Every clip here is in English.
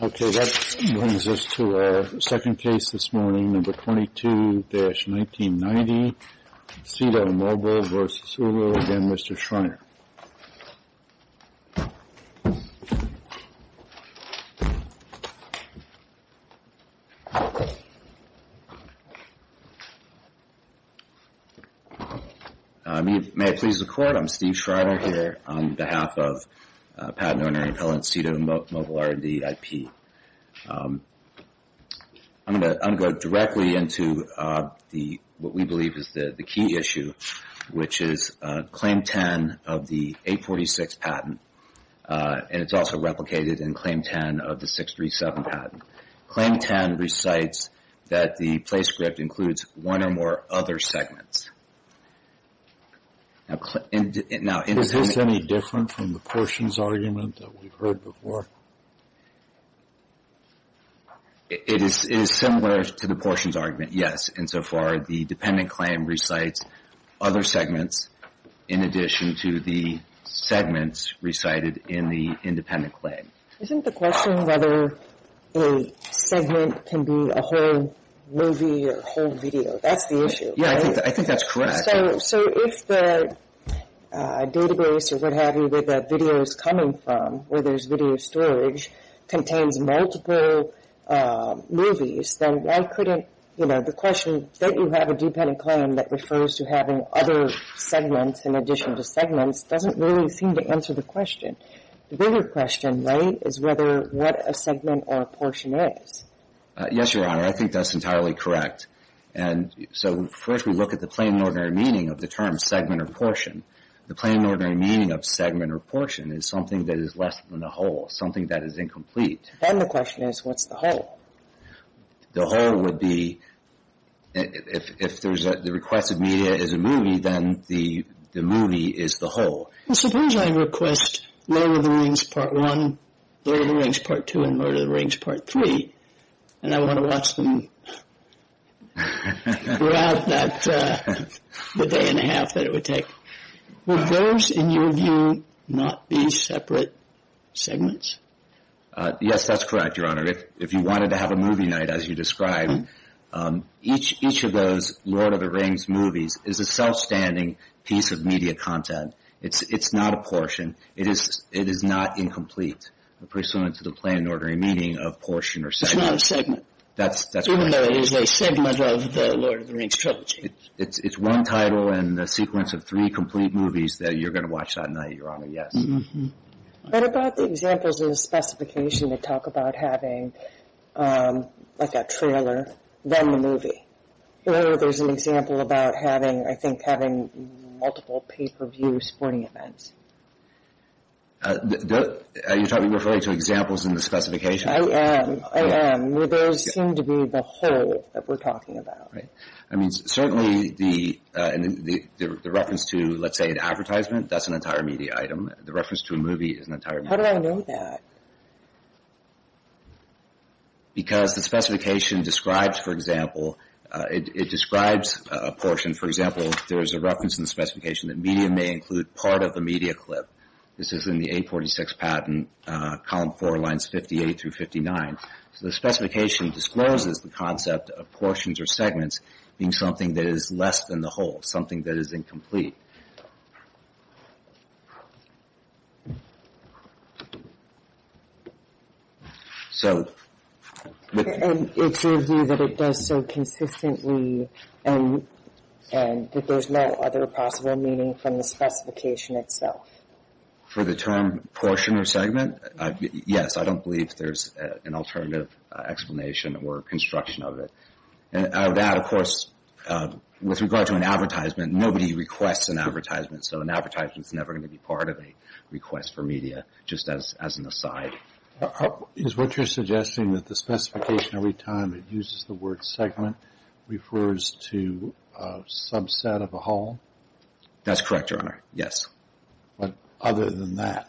Okay, that brings us to our second case this morning, number 22-1990, SITO Mobile v. Hulu. Again, Mr. Schreiner. May it please the Court, I'm Steve Schreiner here on behalf of Patent Owner and Appellant, SITO Mobile R&D IP. I'm going to go directly into what we believe is the key issue, which is Claim 10 of the 846 patent. And it's also replicated in Claim 10 of the 637 patent. Claim 10 recites that the place script includes one or more other segments. Is this any different from the portions argument that we've heard before? It is similar to the portions argument, yes. Insofar, the dependent claim recites other segments in addition to the segments recited in the independent claim. Isn't the question whether a segment can be a whole movie or a whole video? That's the issue, right? Yeah, I think that's correct. So if the database or what have you that the video is coming from, where there's video storage, contains multiple movies, then why couldn't, you know, the question, don't you have a dependent claim that refers to having other segments in addition to segments doesn't really seem to answer the question. The bigger question, right, is whether what a segment or a portion is. Yes, Your Honor, I think that's entirely correct. And so first we look at the plain and ordinary meaning of the term segment or portion. The plain and ordinary meaning of segment or portion is something that is less than a whole, something that is incomplete. Then the question is, what's the whole? The whole would be, if the requested media is a movie, then the movie is the whole. Suppose I request Lord of the Rings Part 1, Lord of the Rings Part 2, and Lord of the Rings Part 3, and I want to watch them throughout the day and a half that it would take. Would those, in your view, not be separate segments? Yes, that's correct, Your Honor. If you wanted to have a movie night, as you described, each of those Lord of the Rings movies is a self-standing piece of media content. It's not a portion. It is not incomplete, pursuant to the plain and ordinary meaning of portion or segment. It's not a segment. That's correct. Even though it is a segment of the Lord of the Rings trilogy. It's one title and a sequence of three complete movies that you're going to watch that night, Your Honor, yes. What about the examples in the specification that talk about having, like a trailer, then the movie? Your Honor, there's an example about having, I think, having multiple pay-per-view sporting events. Are you referring to examples in the specification? I am, I am. Would those seem to be the whole that we're talking about? I mean, certainly the reference to, let's say, an advertisement, that's an entire media item. The reference to a movie is an entire media item. How do I know that? Because the specification describes, for example, it describes a portion. For example, there's a reference in the specification that media may include part of the media clip. This is in the 846 patent, column four, lines 58 through 59. So the specification discloses the concept of portions or segments being something that is less than the whole, something that is incomplete. So... And it's your view that it does so consistently and that there's no other possible meaning from the specification itself? For the term portion or segment? Yes, I don't believe there's an alternative explanation or construction of it. That, of course, with regard to an advertisement, nobody requests an advertisement, so an advertisement is never going to be part of a request for media, just as an aside. Is what you're suggesting that the specification, every time it uses the word segment, refers to a subset of a whole? That's correct, Your Honor. Yes. But other than that,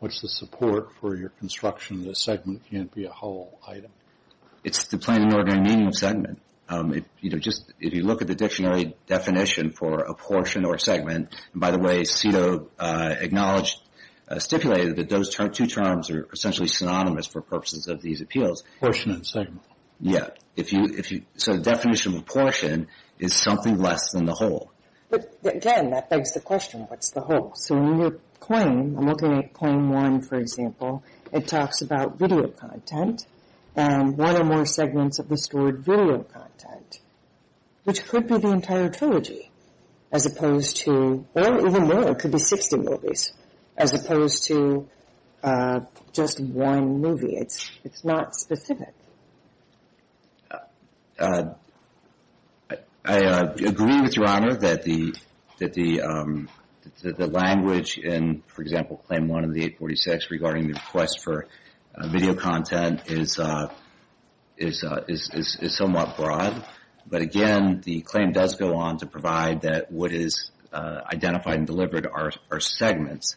what's the support for your construction that a segment can't be a whole item? It's the plain and ordinary meaning of segment. You know, just if you look at the dictionary definition for a portion or a segment, and by the way, Cito acknowledged, stipulated that those two terms are essentially synonymous for purposes of these appeals. Portion and segment. Yes. So the definition of a portion is something less than the whole. But, again, that begs the question, what's the whole? So in your claim, I'm looking at claim one, for example, it talks about video content and one or more segments of the stored video content, which could be the entire trilogy, as opposed to, or even more, it could be 60 movies, as opposed to just one movie. It's not specific. I agree with Your Honor that the language in, for example, claim one of the 846, regarding the request for video content is somewhat broad. But, again, the claim does go on to provide that what is identified and delivered are segments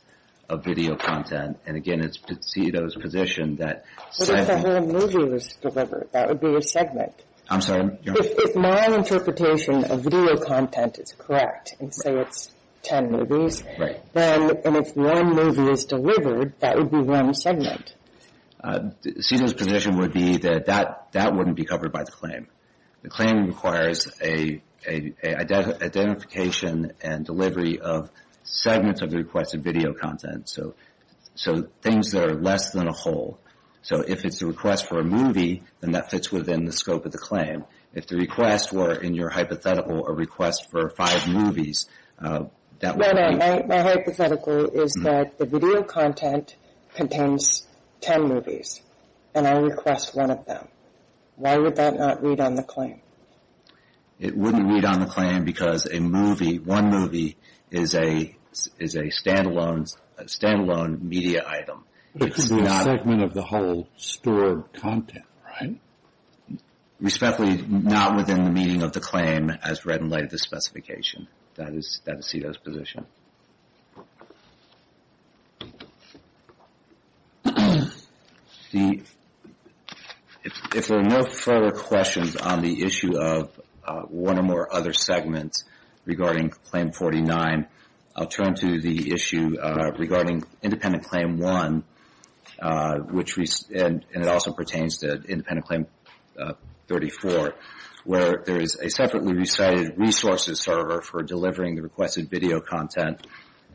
of video content. And, again, it's Cito's position that segment. What if the whole movie was delivered? That would be a segment. I'm sorry? If my interpretation of video content is correct, and say it's 10 movies, then if one movie is delivered, that would be one segment. Cito's position would be that that wouldn't be covered by the claim. The claim requires an identification and delivery of segments of the requested video content, so things that are less than a whole. So if it's a request for a movie, then that fits within the scope of the claim. If the request were, in your hypothetical, a request for five movies, that would be My hypothetical is that the video content contains 10 movies, and I request one of them. Why would that not read on the claim? It wouldn't read on the claim because a movie, one movie, is a stand-alone media item. It could be a segment of the whole store of content, right? Respectfully, not within the meaning of the claim as read in light of the specification. That is Cito's position. If there are no further questions on the issue of one or more other segments regarding Claim 49, I'll turn to the issue regarding Independent Claim 1, and it also pertains to Independent Claim 34, where there is a separately recited resources server for delivering the requested video content,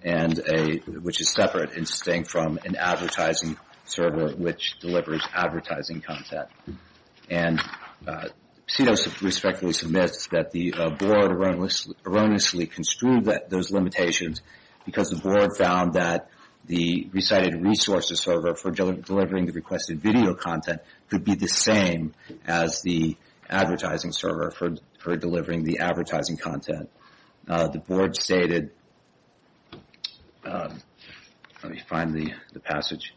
which is separate and distinct from an advertising server which delivers advertising content. And Cito respectfully submits that the Board erroneously construed those limitations because the Board found that the recited resources server for delivering the requested video content could be the same as the advertising server for delivering the advertising content. The Board stated, let me find the passage.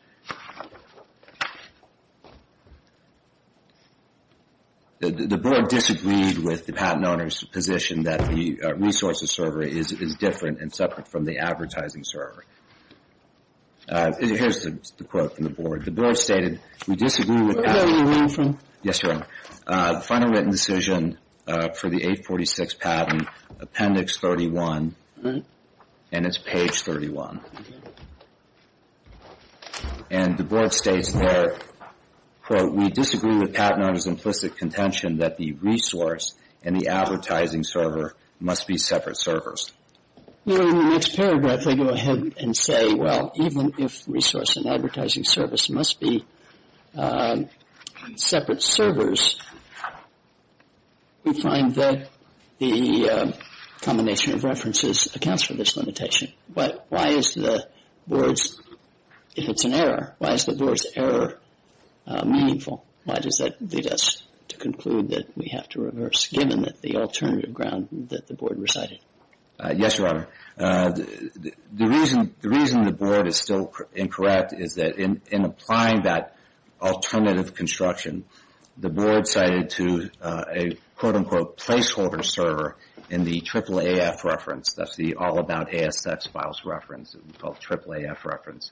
The Board disagreed with the Patent Owner's position that the resources server is different and separate from the advertising server. Here's the quote from the Board. The Board stated, we disagree with Patent Owner's implicit contention that the resource and the advertising server must be separate servers. Here in the next paragraph they go ahead and say, well, even if resource and advertising service must be separate servers, we find that the combination of references accounts for this limitation. But why is the Board's, if it's an error, why is the Board's error meaningful? Why does that lead us to conclude that we have to reverse, given the alternative ground that the Board recited? Yes, Your Honor. The reason the Board is still incorrect is that in applying that alternative construction, the Board cited to a, quote, unquote, placeholder server in the AAAF reference. That's the All About ASX Files reference. It's called AAAF reference.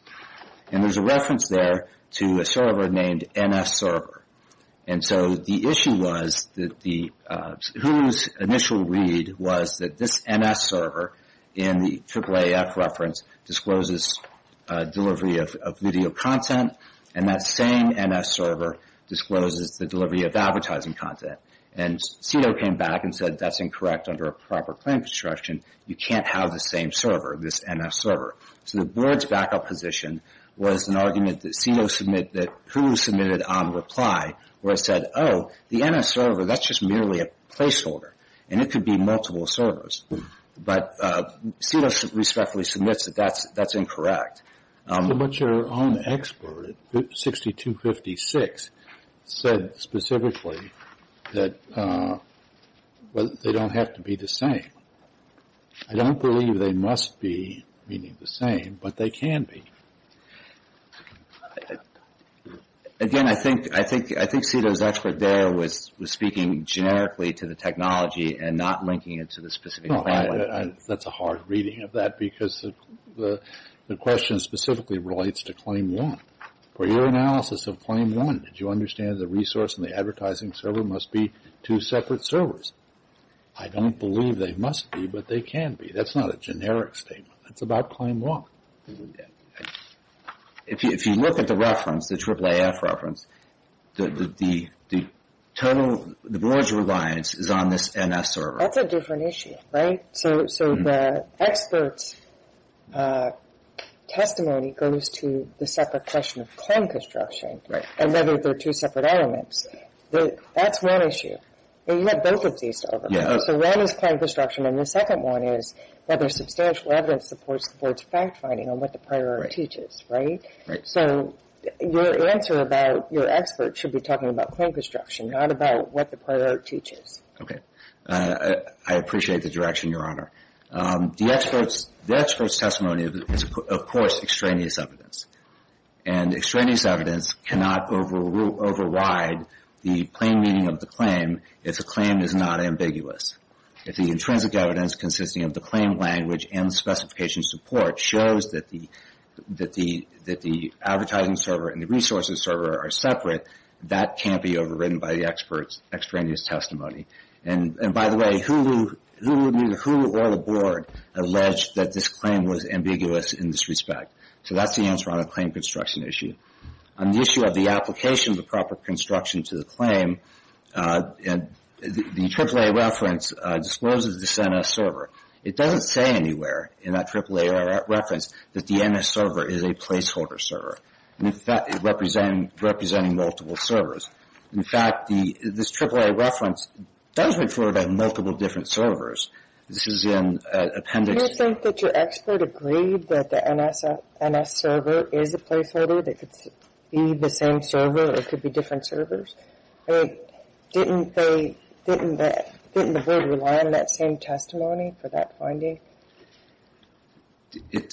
And there's a reference there to a server named NS server. And so the issue was that the, Hulu's initial read was that this NS server in the AAAF reference discloses delivery of video content, and that same NS server discloses the delivery of advertising content. And CEDAW came back and said that's incorrect under a proper claim construction. You can't have the same server, this NS server. So the Board's backup position was an argument that CEDAW submitted, that Hulu submitted on reply, where it said, oh, the NS server, that's just merely a placeholder. And it could be multiple servers. But CEDAW respectfully submits that that's incorrect. But your own expert, 6256, said specifically that they don't have to be the same. I don't believe they must be, meaning the same, but they can be. Again, I think CEDAW's expert there was speaking generically to the technology and not linking it to the specific claim. That's a hard reading of that because the question specifically relates to Claim 1. For your analysis of Claim 1, did you understand the resource and the advertising server must be two separate servers? I don't believe they must be, but they can be. That's not a generic statement. That's about Claim 1. If you look at the reference, the AAAF reference, the total, the Board's reliance is on this NS server. That's a different issue, right? So the expert's testimony goes to the separate question of claim construction and whether they're two separate elements. That's one issue. And you have both of these to override. So one is claim construction, and the second one is whether substantial evidence supports the Board's fact-finding on what the prior art teaches, right? Right. So your answer about your expert should be talking about claim construction, not about what the prior art teaches. Okay. I appreciate the direction, Your Honor. The expert's testimony is, of course, extraneous evidence. And extraneous evidence cannot override the plain meaning of the claim if the claim is not ambiguous. If the intrinsic evidence consisting of the claim language and the specification support shows that the advertising server and the resources server are separate, that can't be overridden by the expert's extraneous testimony. And, by the way, who or the Board alleged that this claim was ambiguous in this respect? So that's the answer on the claim construction issue. On the issue of the application of the proper construction to the claim, the AAA reference discloses this NS server. It doesn't say anywhere in that AAA reference that the NS server is a placeholder server. In fact, it's representing multiple servers. In fact, this AAA reference does refer to multiple different servers. This is in appendix... NS server is a placeholder. It could be the same server. It could be different servers. Didn't the Board rely on that same testimony for that finding?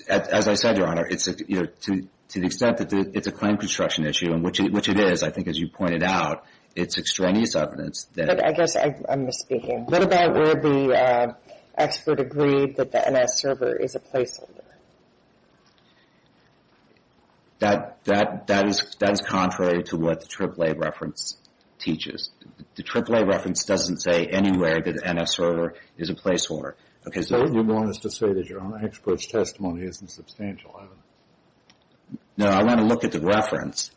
As I said, Your Honor, to the extent that it's a claim construction issue, which it is, I think, as you pointed out, it's extraneous evidence. I guess I'm misspeaking. What about where the expert agreed that the NS server is a placeholder? That is contrary to what the AAA reference teaches. The AAA reference doesn't say anywhere that the NS server is a placeholder. So you want us to say that Your Honor, the expert's testimony isn't substantial evidence? No, I want to look at the reference.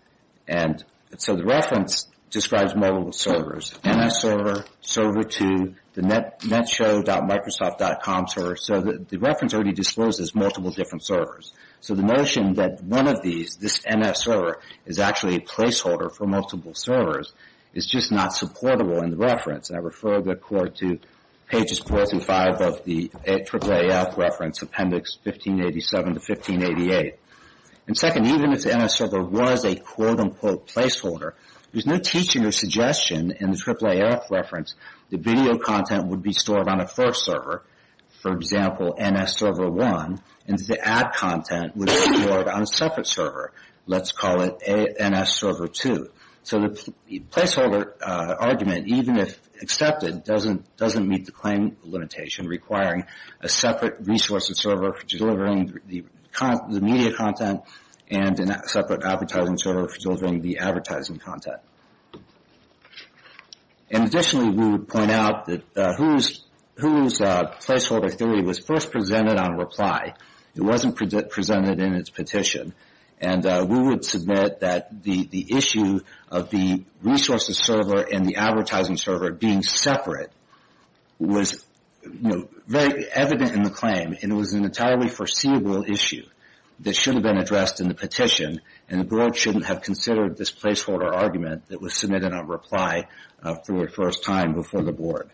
So the reference describes multiple servers. NS server, server 2, the netshow.microsoft.com server. So the reference already discloses multiple different servers. So the notion that one of these, this NS server, is actually a placeholder for multiple servers is just not supportable in the reference. And I refer the Court to pages 4 through 5 of the AAAF reference, appendix 1587 to 1588. And second, even if the NS server was a quote-unquote placeholder, there's no teaching or suggestion in the AAAF reference that video content would be stored on a first server, for example, NS server 1, and that the ad content would be stored on a separate server. Let's call it NS server 2. So the placeholder argument, even if accepted, doesn't meet the claim limitation requiring a separate resource and server for delivering the media content and a separate advertising server for delivering the advertising content. And additionally, we would point out that Hulu's placeholder theory was first presented on reply. It wasn't presented in its petition. And we would submit that the issue of the resources server and the advertising server being separate was very evident in the claim, and it was an entirely foreseeable issue that should have been addressed in the petition, and the Board shouldn't have considered this placeholder argument that was submitted on reply for the first time before the Board.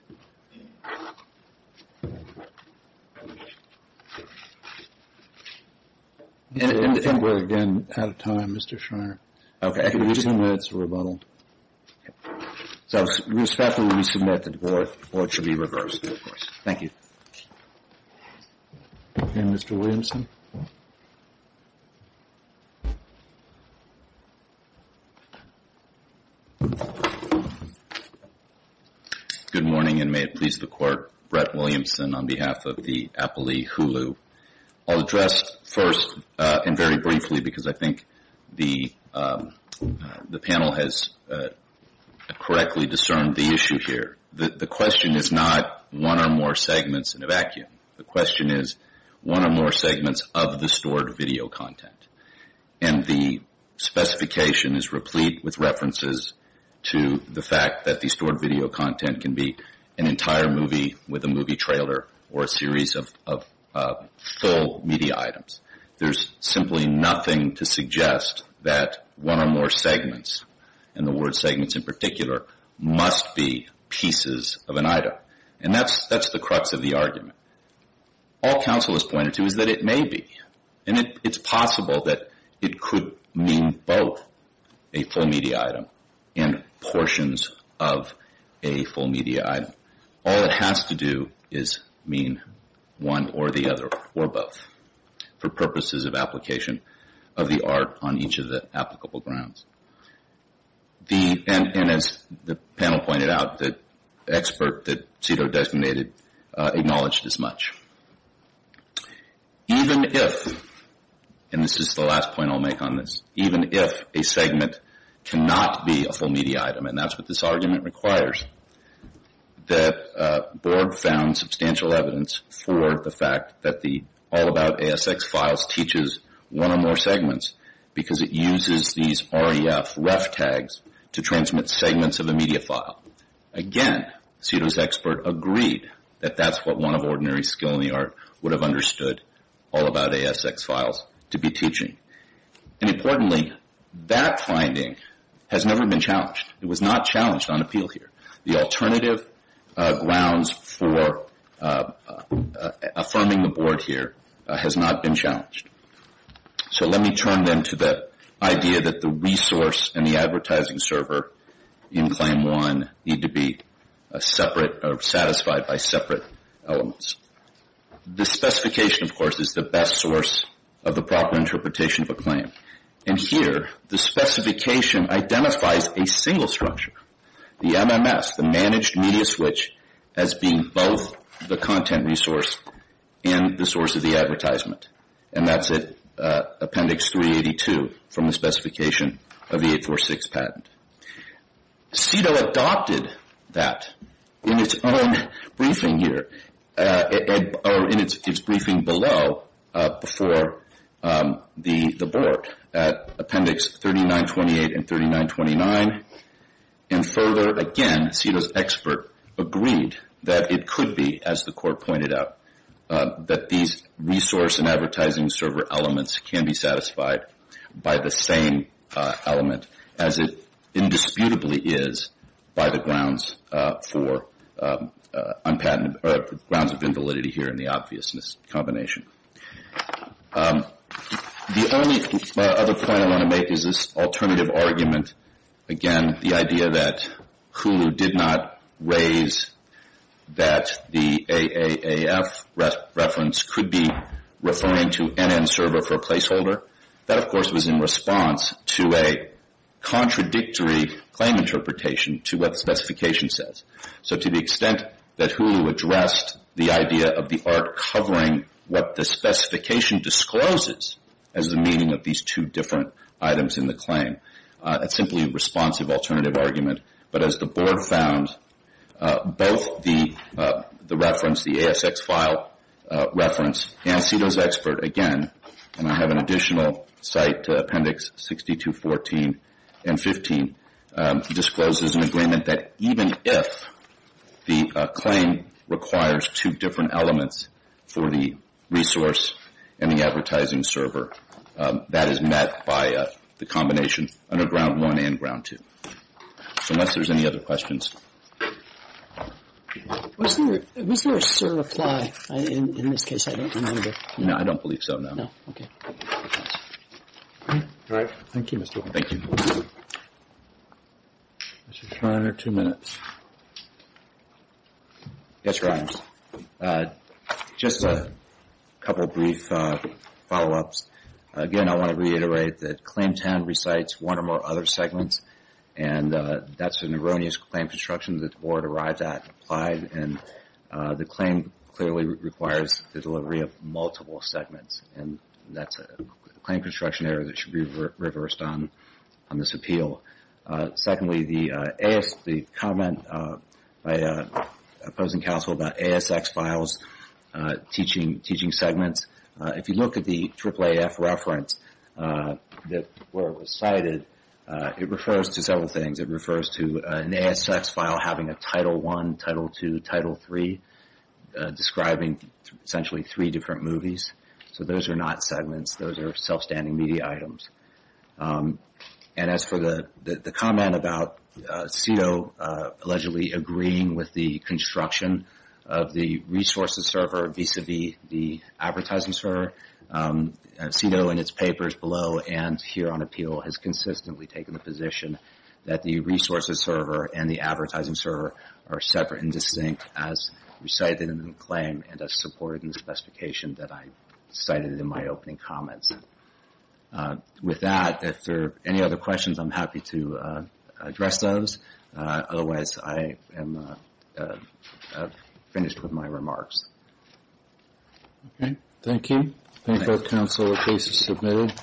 I think we're, again, out of time, Mr. Schreiner. Okay. So respectfully, we submit that the Board should be reversed. Thank you. And Mr. Williamson. Good morning, and may it please the Court. Brett Williamson on behalf of the Applee Hulu. I'll address first and very briefly because I think the panel has correctly discerned the issue here. The question is not one or more segments in a vacuum. The question is one or more segments of the stored video content. And the specification is replete with references to the fact that the stored video content can be an entire movie with a movie trailer or a series of full media items. There's simply nothing to suggest that one or more segments, and the word segments in particular, must be pieces of an item. And that's the crux of the argument. All counsel has pointed to is that it may be, and it's possible that it could mean both a full media item and portions of a full media item. All it has to do is mean one or the other or both for purposes of application of the art on each of the applicable grounds. And as the panel pointed out, the expert that CEDAW designated acknowledged as much. Even if, and this is the last point I'll make on this, even if a segment cannot be a full media item, and that's what this argument requires, that Borg found substantial evidence for the fact that the All About ASX files teaches one or more segments because it uses these REF ref tags to transmit segments of a media file. Again, CEDAW's expert agreed that that's what one of ordinary skill in the art would have understood All About ASX files to be teaching. It was not challenged on appeal here. The alternative grounds for affirming the board here has not been challenged. So let me turn then to the idea that the resource and the advertising server in Claim 1 need to be separate or satisfied by separate elements. The specification, of course, is the best source of the proper interpretation of a claim. And here, the specification identifies a single structure, the MMS, the managed media switch, as being both the content resource and the source of the advertisement. And that's Appendix 382 from the specification of the 846 patent. CEDAW adopted that in its own briefing here, or in its briefing below, before the board at Appendix 3928 and 3929. And further, again, CEDAW's expert agreed that it could be, as the court pointed out, that these resource and advertising server elements can be satisfied by the same element as it indisputably is by the grounds of invalidity here in the obviousness combination. The only other point I want to make is this alternative argument. Again, the idea that Hulu did not raise that the AAAF reference could be referring to NN server for placeholder. That, of course, was in response to a contradictory claim interpretation to what the specification says. So to the extent that Hulu addressed the idea of the art covering what the specification discloses as the meaning of these two different items in the claim, that's simply a responsive alternative argument. But as the board found, both the reference, the ASX file reference, and CEDAW's expert, again, and I have an additional cite to Appendix 6214 and 15, discloses an agreement that even if the claim requires two different elements for the resource and the advertising server, that is met by the combination under Ground 1 and Ground 2. So unless there's any other questions. Was there a certify in this case? I don't remember. No, I don't believe so, no. No, okay. Thank you, Mr. Warren. Thank you. Mr. Schreiner, two minutes. Yes, Your Honor. Just a couple of brief follow-ups. Again, I want to reiterate that Claim 10 recites one or more other segments, and that's an erroneous claim construction that the board arrived at and applied, and the claim clearly requires the delivery of multiple segments, and that's a claim construction error that should be reversed on this appeal. Secondly, the comment by opposing counsel about ASX files teaching segments, if you look at the AAAF reference where it was cited, it refers to several things. It refers to an ASX file having a Title 1, Title 2, Title 3, describing essentially three different movies. So those are not segments. Those are self-standing media items. And as for the comment about CEDAW allegedly agreeing with the construction of the resources server vis-à-vis the advertising server, CEDAW in its papers below and here on appeal has consistently taken the position that the resources server and the advertising server are separate and distinct, as recited in the claim and as supported in the specification that I cited in my opening comments. With that, if there are any other questions, I'm happy to address those. Otherwise, I am finished with my remarks. Okay. Thank you. I think that counsel's case is submitted.